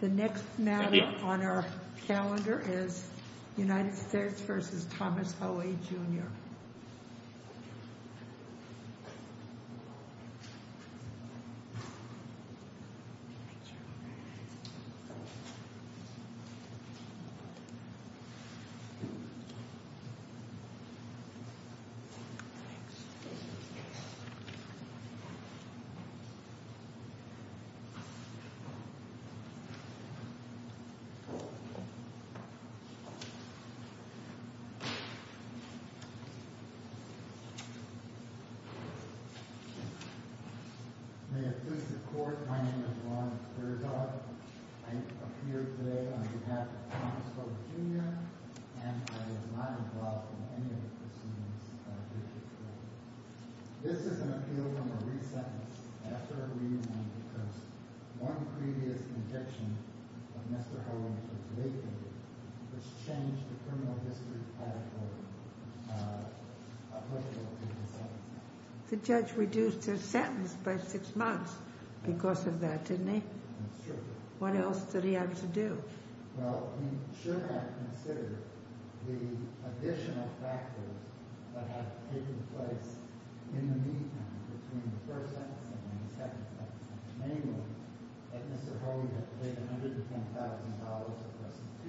The next matter on our calendar is United States v. Thomas Hoey Jr. May it please the Court, my name is Ron Terzog, I appear today on behalf of Thomas Hoey Jr. and I am not involved in any of the proceedings of this case. This is an appeal from a re-sentence after a reunion because one previous conviction of Mr. Hoey was waived, which changed the criminal history of his sentence. The judge reduced his sentence by six months because of that, didn't he? What else did he have to do?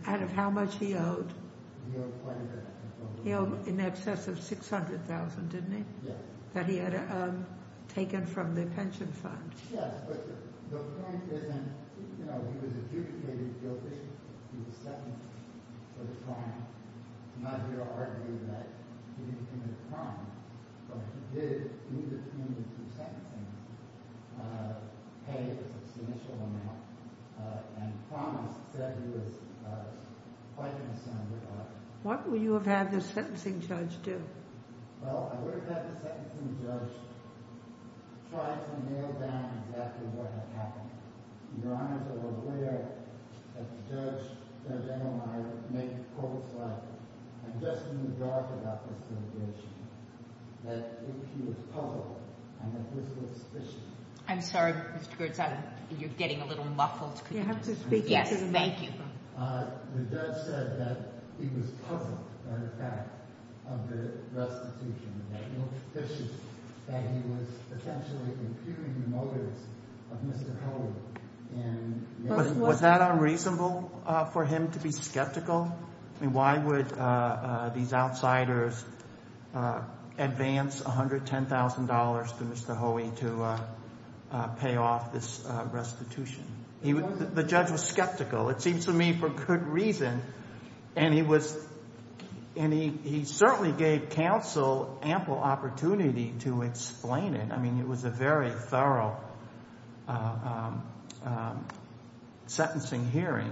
Out of how much he owed? He owed in excess of $600,000, didn't he? That he had taken from the pension fund. Yes, but the point isn't, you know, he was adjudicated guilty, he was sentenced for the crime. I'm not here to argue that he didn't commit a crime, but he did lose his payment through sentencing. Pay was his initial amount, and Thomas said he was quite concerned about it. What would you have had the sentencing judge do? Well, I would have had the sentencing judge try to nail down exactly what had happened. Your Honours are aware that the judge, Judge Edelmeyer, made the quote, I'm just in the dark about this litigation, that he was puzzled and that this was fishy. I'm sorry, Mr. Goertz, you're getting a little muffled. You have to speak into the mic. Yes, thank you. The judge said that he was puzzled by the fact of the restitution, that it looked fishy, that he was potentially impugning the motives of Mr. Hoey. Was that unreasonable for him to be skeptical? I mean, why would these outsiders advance $110,000 to Mr. Hoey to pay off this restitution? The judge was skeptical, it seems to me, for good reason, and he certainly gave counsel ample opportunity to explain it. I mean, it was a very thorough sentencing hearing.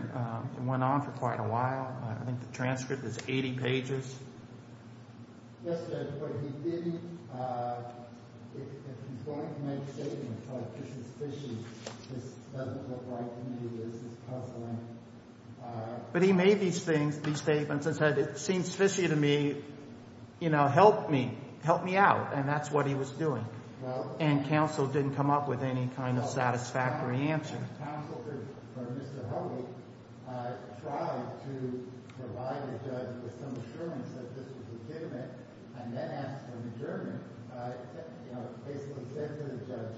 It went on for quite a while. I think the transcript is 80 pages. Yes, Judge, but he didn't, if he's going to make statements like this is fishy, this doesn't look right to me, this is puzzling. But he made these things, these statements and said, it seems fishy to me, you know, help me, help me out, and that's what he was doing. And counsel didn't come up with any kind of satisfactory answer. Counsel for Mr. Hoey tried to provide the judge with some assurance that this was legitimate and then asked for an adjournment. You know, basically said to the judge,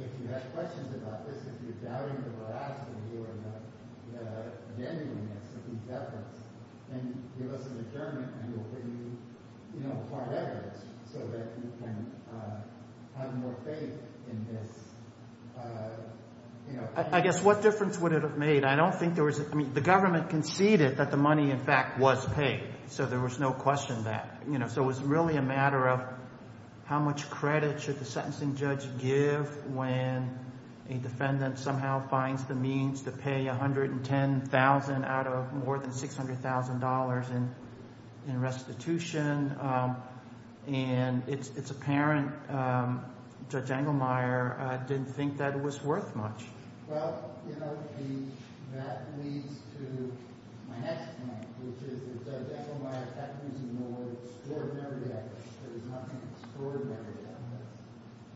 if you have questions about this, if you're doubting the veracity or the genuineness of these efforts, then give us an adjournment and we'll bring you, you know, so that you can have more faith in this. I guess what difference would it have made? I don't think there was, I mean, the government conceded that the money, in fact, was paid, so there was no question that, you know, so it was really a matter of how much credit should the sentencing judge give when a defendant somehow finds the means to pay $110,000 out of more than $600,000 in restitution. And it's apparent Judge Engelmeyer didn't think that it was worth much. Well, you know, that leads to my next point, which is that Judge Engelmeyer kept using the word extraordinary evidence. There's nothing extraordinary about this.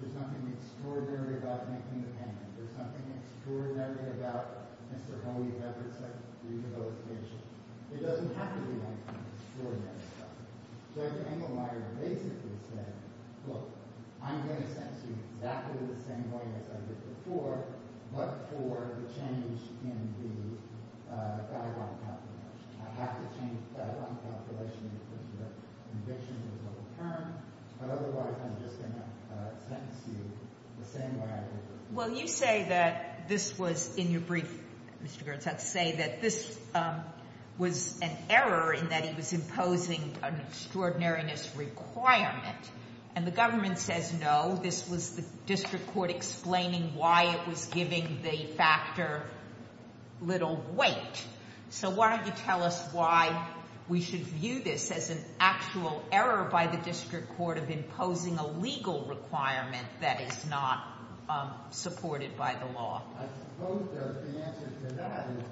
There's nothing extraordinary about making the payment. There's nothing extraordinary about Mr. Hoey's efforts at rehabilitation. There doesn't have to be anything extraordinary about it. Judge Engelmeyer basically said, look, I'm going to sentence you exactly the same way as I did before, but for the change in the guideline calculation. I have to change the guideline calculation because the conviction was not apparent, but otherwise I'm just going to sentence you the same way I did before. Well, you say that this was, in your brief, Mr. Girtz, I'd say that this was an error in that he was imposing an extraordinariness requirement, and the government says no, this was the district court explaining why it was giving the factor little weight. So why don't you tell us why we should view this as an actual error by the district court of imposing a legal requirement that is not supported by the law? I suppose that the answer to that is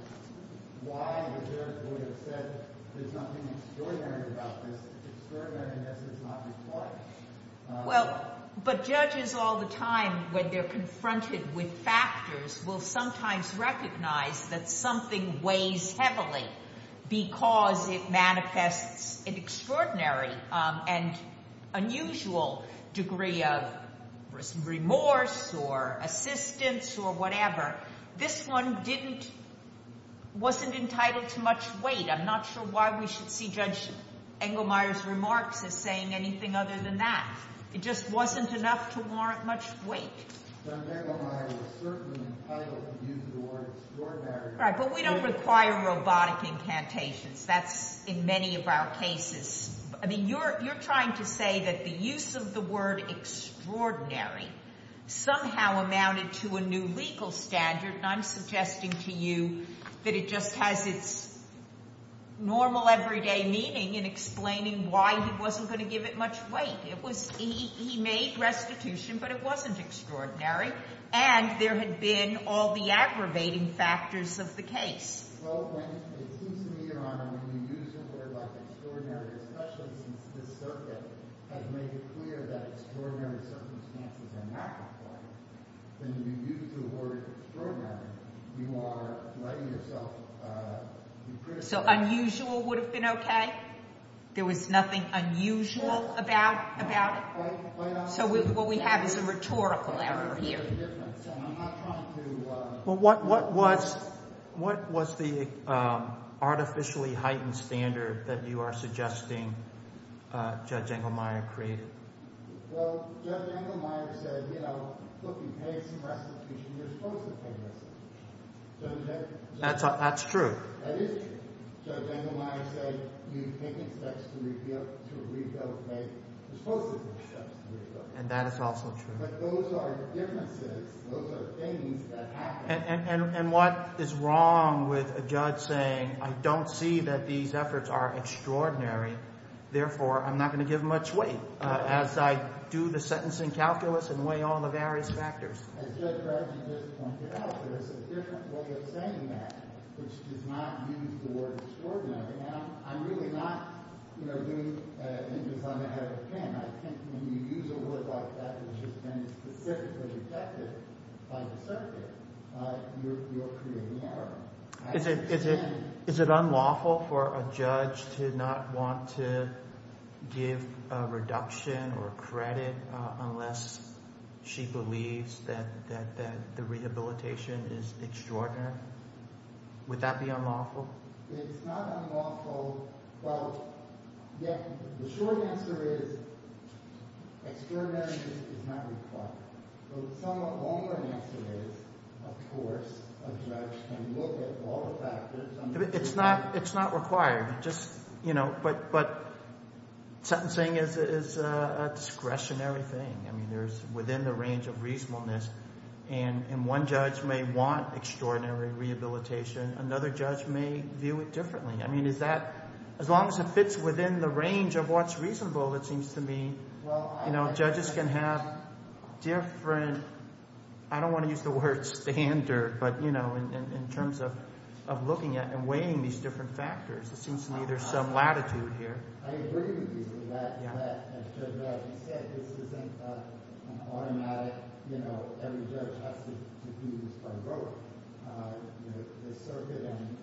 why the judge would have said there's nothing extraordinary about this. Extraordinaryness is not required. Well, but judges all the time, when they're confronted with factors, will sometimes recognize that something weighs heavily because it manifests an extraordinary and unusual degree of remorse or assistance or whatever. This one wasn't entitled to much weight. I'm not sure why we should see Judge Engelmeyer's remarks as saying anything other than that. It just wasn't enough to warrant much weight. Judge Engelmeyer was certainly entitled to use the word extraordinary. Right, but we don't require robotic incantations. That's in many of our cases. I mean, you're trying to say that the use of the word extraordinary somehow amounted to a new legal standard, and I'm suggesting to you that it just has its normal everyday meaning in explaining why he wasn't going to give it much weight. He made restitution, but it wasn't extraordinary, and there had been all the aggravating factors of the case. Well, it seems to me, Your Honor, when you use the word like extraordinary, especially since this circuit has made it clear that extraordinary circumstances are not required, when you use the word extraordinary, you are letting yourself be criticized. So unusual would have been okay? There was nothing unusual about it? So what we have is a rhetorical error here. Well, what was the artificially heightened standard that you are suggesting Judge Engelmeyer created? Well, Judge Engelmeyer said, you know, look, you paid some restitution. You're supposed to pay restitution. That's true. That is true. Judge Engelmeyer said you've taken steps to rebuild pay. You're supposed to take steps to rebuild pay. And that is also true. But those are differences. Those are things that happen. And what is wrong with a judge saying I don't see that these efforts are extraordinary, therefore I'm not going to give much weight as I do the sentencing calculus and weigh all the various factors? As Judge Bradley just pointed out, there is a different way of saying that, which does not use the word extraordinary. Now, I'm really not, you know, doing it because I'm ahead of the game. I think when you use a word like that that has been specifically detected by the circuit, you're creating error. Is it unlawful for a judge to not want to give a reduction or credit unless she believes that the rehabilitation is extraordinary? Would that be unlawful? It's not unlawful, but yet the short answer is extraordinary is not required. The somewhat longer answer is, of course, a judge can look at all the factors. It's not required. Just, you know, but sentencing is a discretionary thing. I mean, there's within the range of reasonableness, and one judge may want extraordinary rehabilitation. Another judge may view it differently. I mean, is that as long as it fits within the range of what's reasonable, it seems to me, you know, it's not different. I don't want to use the word standard, but, you know, in terms of looking at and weighing these different factors, it seems to me there's some latitude here. I agree with you that, you know, this isn't an automatic, you know, every judge has to do this by vote. You know, the circuit and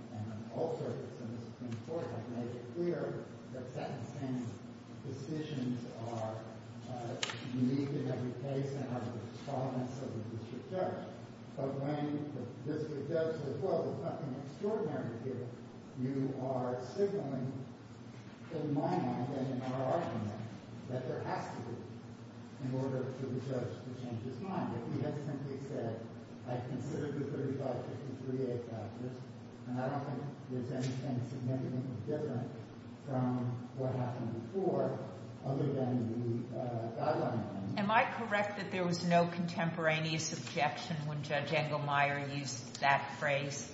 all circuits in the Supreme Court have made it clear that sentencing decisions are unique in every case and are the tolerance of the district judge. But when the district judge says, well, there's nothing extraordinary here, you are signaling, in my mind and in our argument, that there has to be in order for the judge to change his mind. If he had simply said, I've considered the 3553A factors, and I don't think there's anything significantly different from what happened before, other than the guidelines. Am I correct that there was no contemporaneous objection when Judge Engelmeyer used that phrase?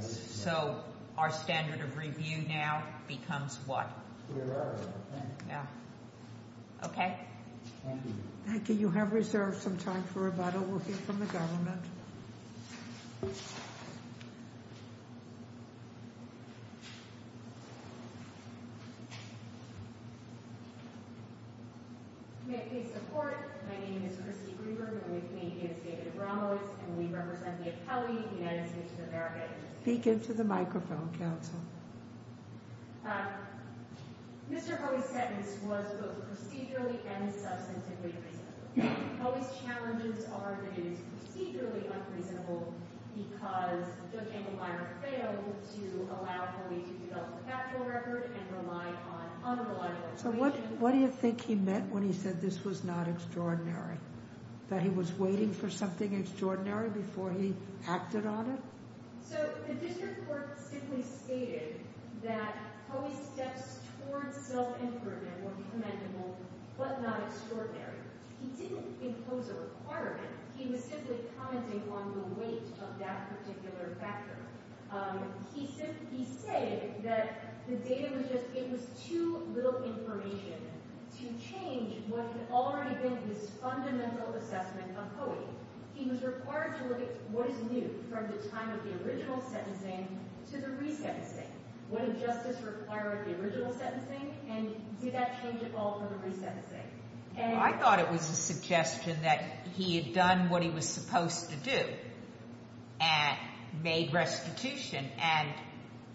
So, our standard of review now becomes what? Okay. Thank you. Thank you. You have reserved some time for rebuttal. We'll hear from the government. May I please support? My name is Christy Greenberg, and with me is David Abramowitz, and we represent the appellee, the United States of America. Speak into the microphone, counsel. Mr. Hoey's sentence was both procedurally and substantively reasonable. Hoey's challenges are that it is procedurally unreasonable because Judge Engelmeyer failed to allow Hoey to develop a factual record and rely on unreliable information. So, what do you think he meant when he said this was not extraordinary? That he was waiting for something extraordinary before he acted on it? So, the district court simply stated that Hoey's steps towards self-improvement were commendable but not extraordinary. He didn't impose a requirement. He was simply commenting on the weight of that particular factor. He said that the data was just, it was too little information to change what had already been his fundamental assessment of Hoey. He was required to look at what is new from the time of the original sentencing to the re-sentencing. What did justice require of the original sentencing, and did that change at all from the re-sentencing? I thought it was a suggestion that he had done what he was supposed to do and made restitution, and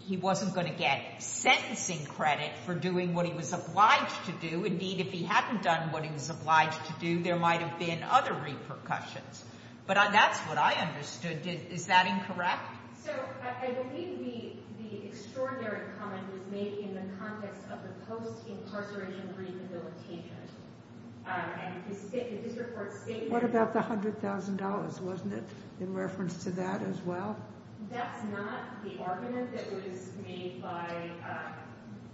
he wasn't going to get sentencing credit for doing what he was obliged to do. Indeed, if he hadn't done what he was obliged to do, there might have been other repercussions. But that's what I understood. Is that incorrect? So, I believe the extraordinary comment was made in the context of the post-incarceration rehabilitation. What about the $100,000? Wasn't it in reference to that as well? That's not the argument that was made by,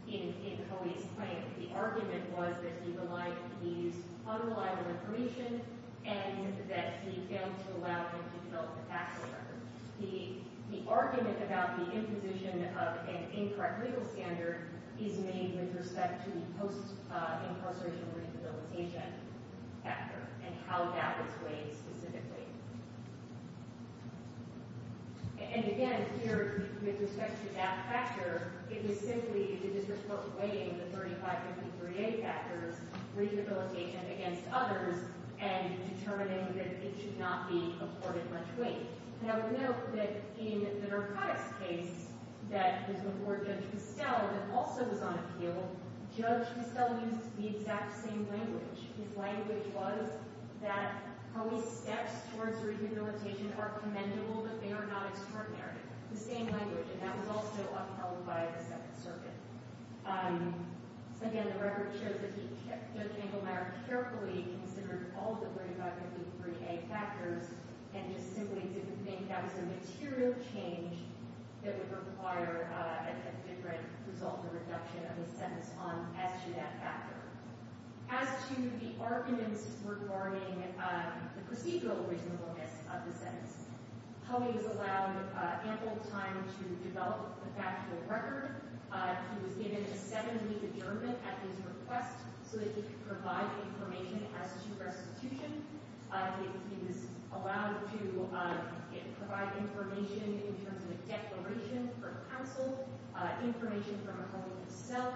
in Hoey's claim. The argument was that he used unreliable information and that he failed to allow him to develop a factual record. The argument about the imposition of an incorrect legal standard is made with respect to the post-incarceration rehabilitation factor and how that was weighed specifically. And again, here, with respect to that factor, it was simply the District Court weighing the 3553A factors, rehabilitation against others, and determining that it should not be afforded much weight. And I would note that in the narcotics case that was before Judge Pestel, that also was on appeal, Judge Pestel used the exact same language. His language was that Hoey's steps towards rehabilitation are commendable, but they are not extraordinary. The same language, and that was also upheld by the Second Circuit. Again, the record shows that Judge Engelmeyer carefully considered all of the 3553A factors and just simply didn't think that was a material change that would require a different result or reduction of the sentence as to that factor. As to the arguments regarding the procedural reasonableness of the sentence, Hoey was allowed ample time to develop the factual record. He was given a seven-week adjournment at his request so that he could provide information as to restitution. He was allowed to provide information in terms of a declaration for counsel, information from Hoey himself.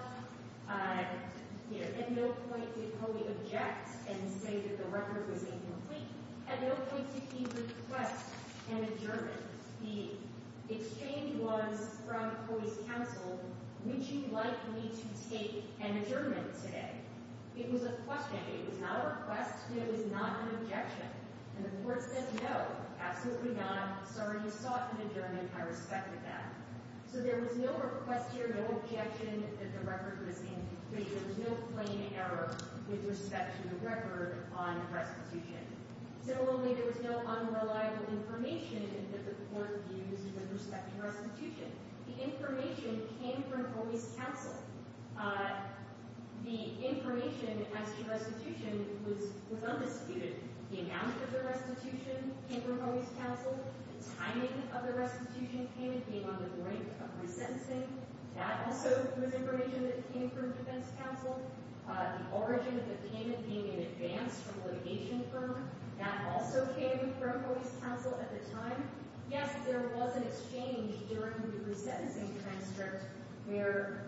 At no point did Hoey object and say that the record was incomplete. At no point did he request an adjournment. The exchange was from Hoey's counsel, would you like me to take an adjournment today? It was a question. It was not a request, and it was not an objection. And the court said no, absolutely not. Sorry, you sought an adjournment. I respected that. So there was no request here, no objection that the record was incomplete. There was no plain error with respect to the record on restitution. Similarly, there was no unreliable information that the court used with respect to restitution. The information came from Hoey's counsel. The information as to restitution was undisputed. The amount of the restitution came from Hoey's counsel. The timing of the restitution came and came on the brink of resentencing. That also was information that came from defense counsel. The origin of the payment being in advance from a litigation firm, that also came from Hoey's counsel at the time. Yes, there was an exchange during the resentencing transcript where,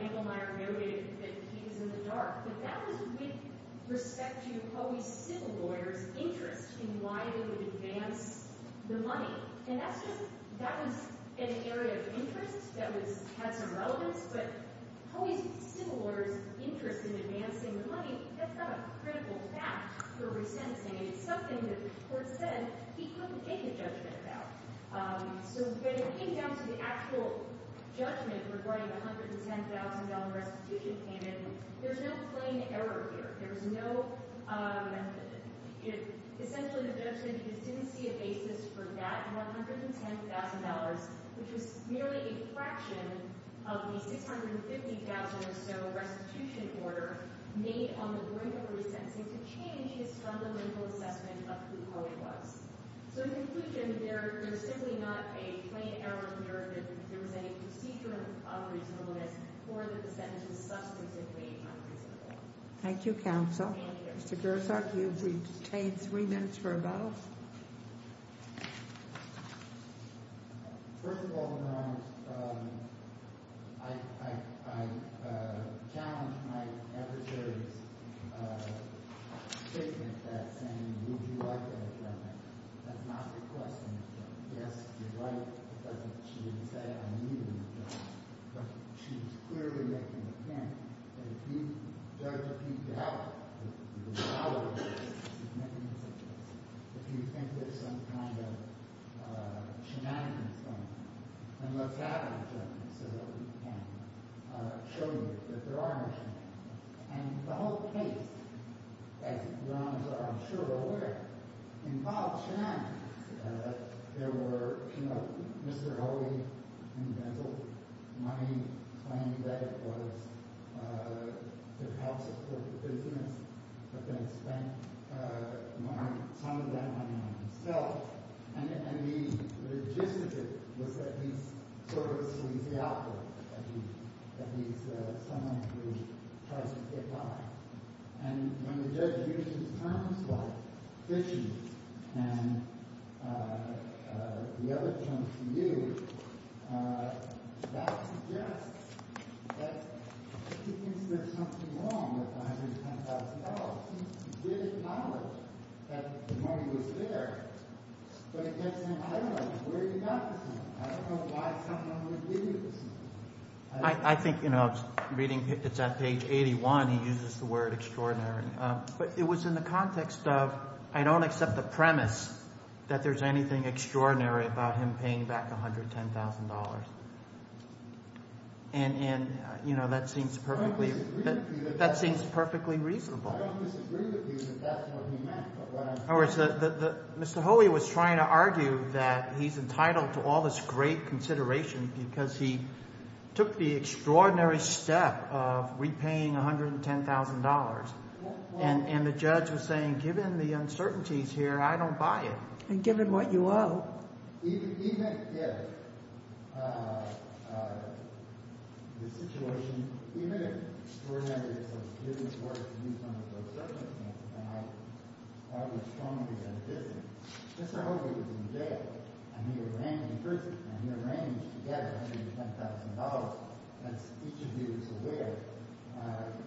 you know, Engelmeyer noted that he's in the dark. But that was with respect to Hoey's civil lawyer's interest in why they would advance the money. And that was an area of interest that had some relevance. But Hoey's civil lawyer's interest in advancing the money, that's not a critical fact for resentencing. And it's something that the court said he couldn't make a judgment about. So getting down to the actual judgment regarding the $110,000 restitution payment, there's no plain error here. There's no – essentially, the judge said he just didn't see a basis for that $110,000, which was merely a fraction of the $650,000 or so restitution order made on the brink of resentencing to change his fundamental assessment of who Hoey was. So in conclusion, there's simply not a plain error here that there was any procedure of reasonableness or that the sentence is substantively unreasonable. Thank you, counsel. Mr. Gershok, you've retained three minutes for a vote. First of all, Your Honor, I challenge my adversary's statement that saying, would you like an adjournment, that's not requesting an adjournment. Yes, she'd like it, but she didn't say I needed an adjournment. But she was clearly making the point that if you – the judge agreed to have an adjournment, there's nothing to suggest. If you think there's some kind of shenanigans going on, then let's have an adjournment so that we can show you that there are no shenanigans. And the whole case, as Your Honor is, I'm sure, aware, involves shenanigans. There were – you know, Mr. Hoey invented money claiming that it was to help support the business, but then spent some of that money on himself. And the logistic was that he's sort of a sleazy operator, that he's someone who tries to get by. And when the judge uses terms like fishing and the other terms he used, that suggests that he thinks there's something wrong with $110,000. He did acknowledge that the money was there, but he kept saying, I don't know where he got this money. I don't know why someone would give you this money. I think, you know, reading – it's at page 81. He uses the word extraordinary. But it was in the context of I don't accept the premise that there's anything extraordinary about him paying back $110,000. And, you know, that seems perfectly – that seems perfectly reasonable. I don't disagree with you that that's what he meant. In other words, Mr. Hoey was trying to argue that he's entitled to all this great consideration because he took the extraordinary step of repaying $110,000. And the judge was saying, given the uncertainties here, I don't buy it. Even if the situation – even if extraordinary is a given word in terms of uncertainty, and I would strongly disagree, Mr. Hoey was in jail, and he arranged to get $110,000. As each of you is aware,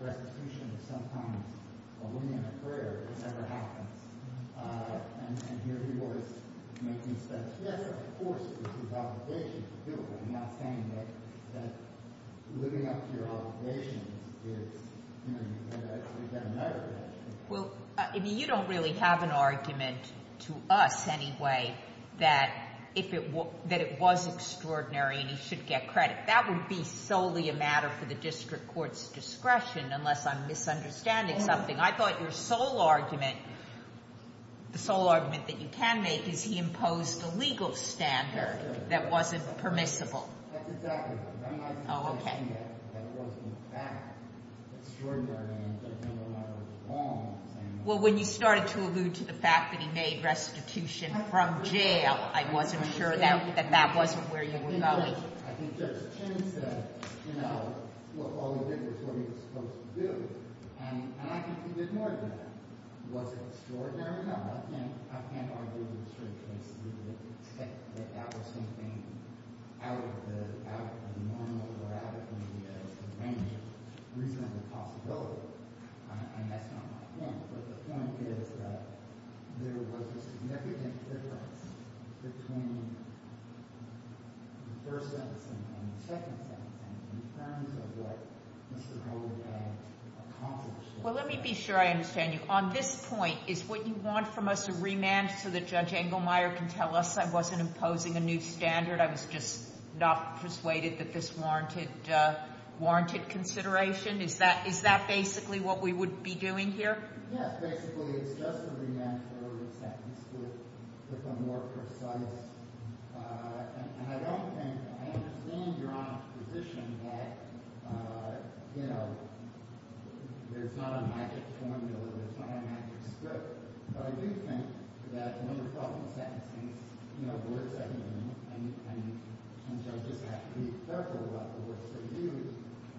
restitution is sometimes a win in a career. It never happens. And here he was making sense. Yes, of course, it's his obligation to do it. I'm not saying that living up to your obligations is – you know, you've got to know that. Well, I mean, you don't really have an argument to us anyway that it was extraordinary and he should get credit. That would be solely a matter for the district court's discretion unless I'm misunderstanding something. I thought your sole argument – the sole argument that you can make is he imposed a legal standard that wasn't permissible. That's exactly right. Oh, okay. That wasn't a fact. Extraordinary. I'm not saying that. Well, when you started to allude to the fact that he made restitution from jail, I wasn't sure that that wasn't where you were going. I think Judge Chin said, you know, all he did was what he was supposed to do. And I think he did more than that. Was it extraordinary? No, I can't argue with the district case to the extent that that was something out of the normal or out of the range of reasonable possibility. And that's not what I think. But the point is that there was a significant difference between the first sentencing and the second sentencing in terms of what Mr. Hogan had accomplished. Well, let me be sure I understand you. On this point, is what you want from us a remand so that Judge Engelmeyer can tell us I wasn't imposing a new standard? I was just not persuaded that this warranted consideration? Is that basically what we would be doing here? Yes, basically. It's just a remand for the sentence to become more precise. And I don't think – I understand you're on a position that, you know, there's not a magic formula. There's not a magic script. But I do think that one of the problems with sentencing is, you know, the words that you use. And judges have to be careful about the words that you use.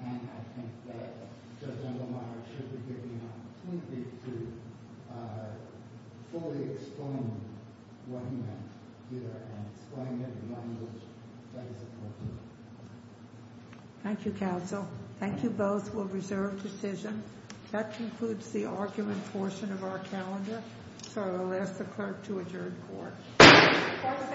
And I think that Judge Engelmeyer should be given an opportunity to fully explain what he meant here and explain it in language that is appropriate. Thank you, counsel. Thank you both. We'll reserve decision. That concludes the argument portion of our calendar. So I will ask the clerk to adjourn court. Court is adjourned. Thank you. Thank you.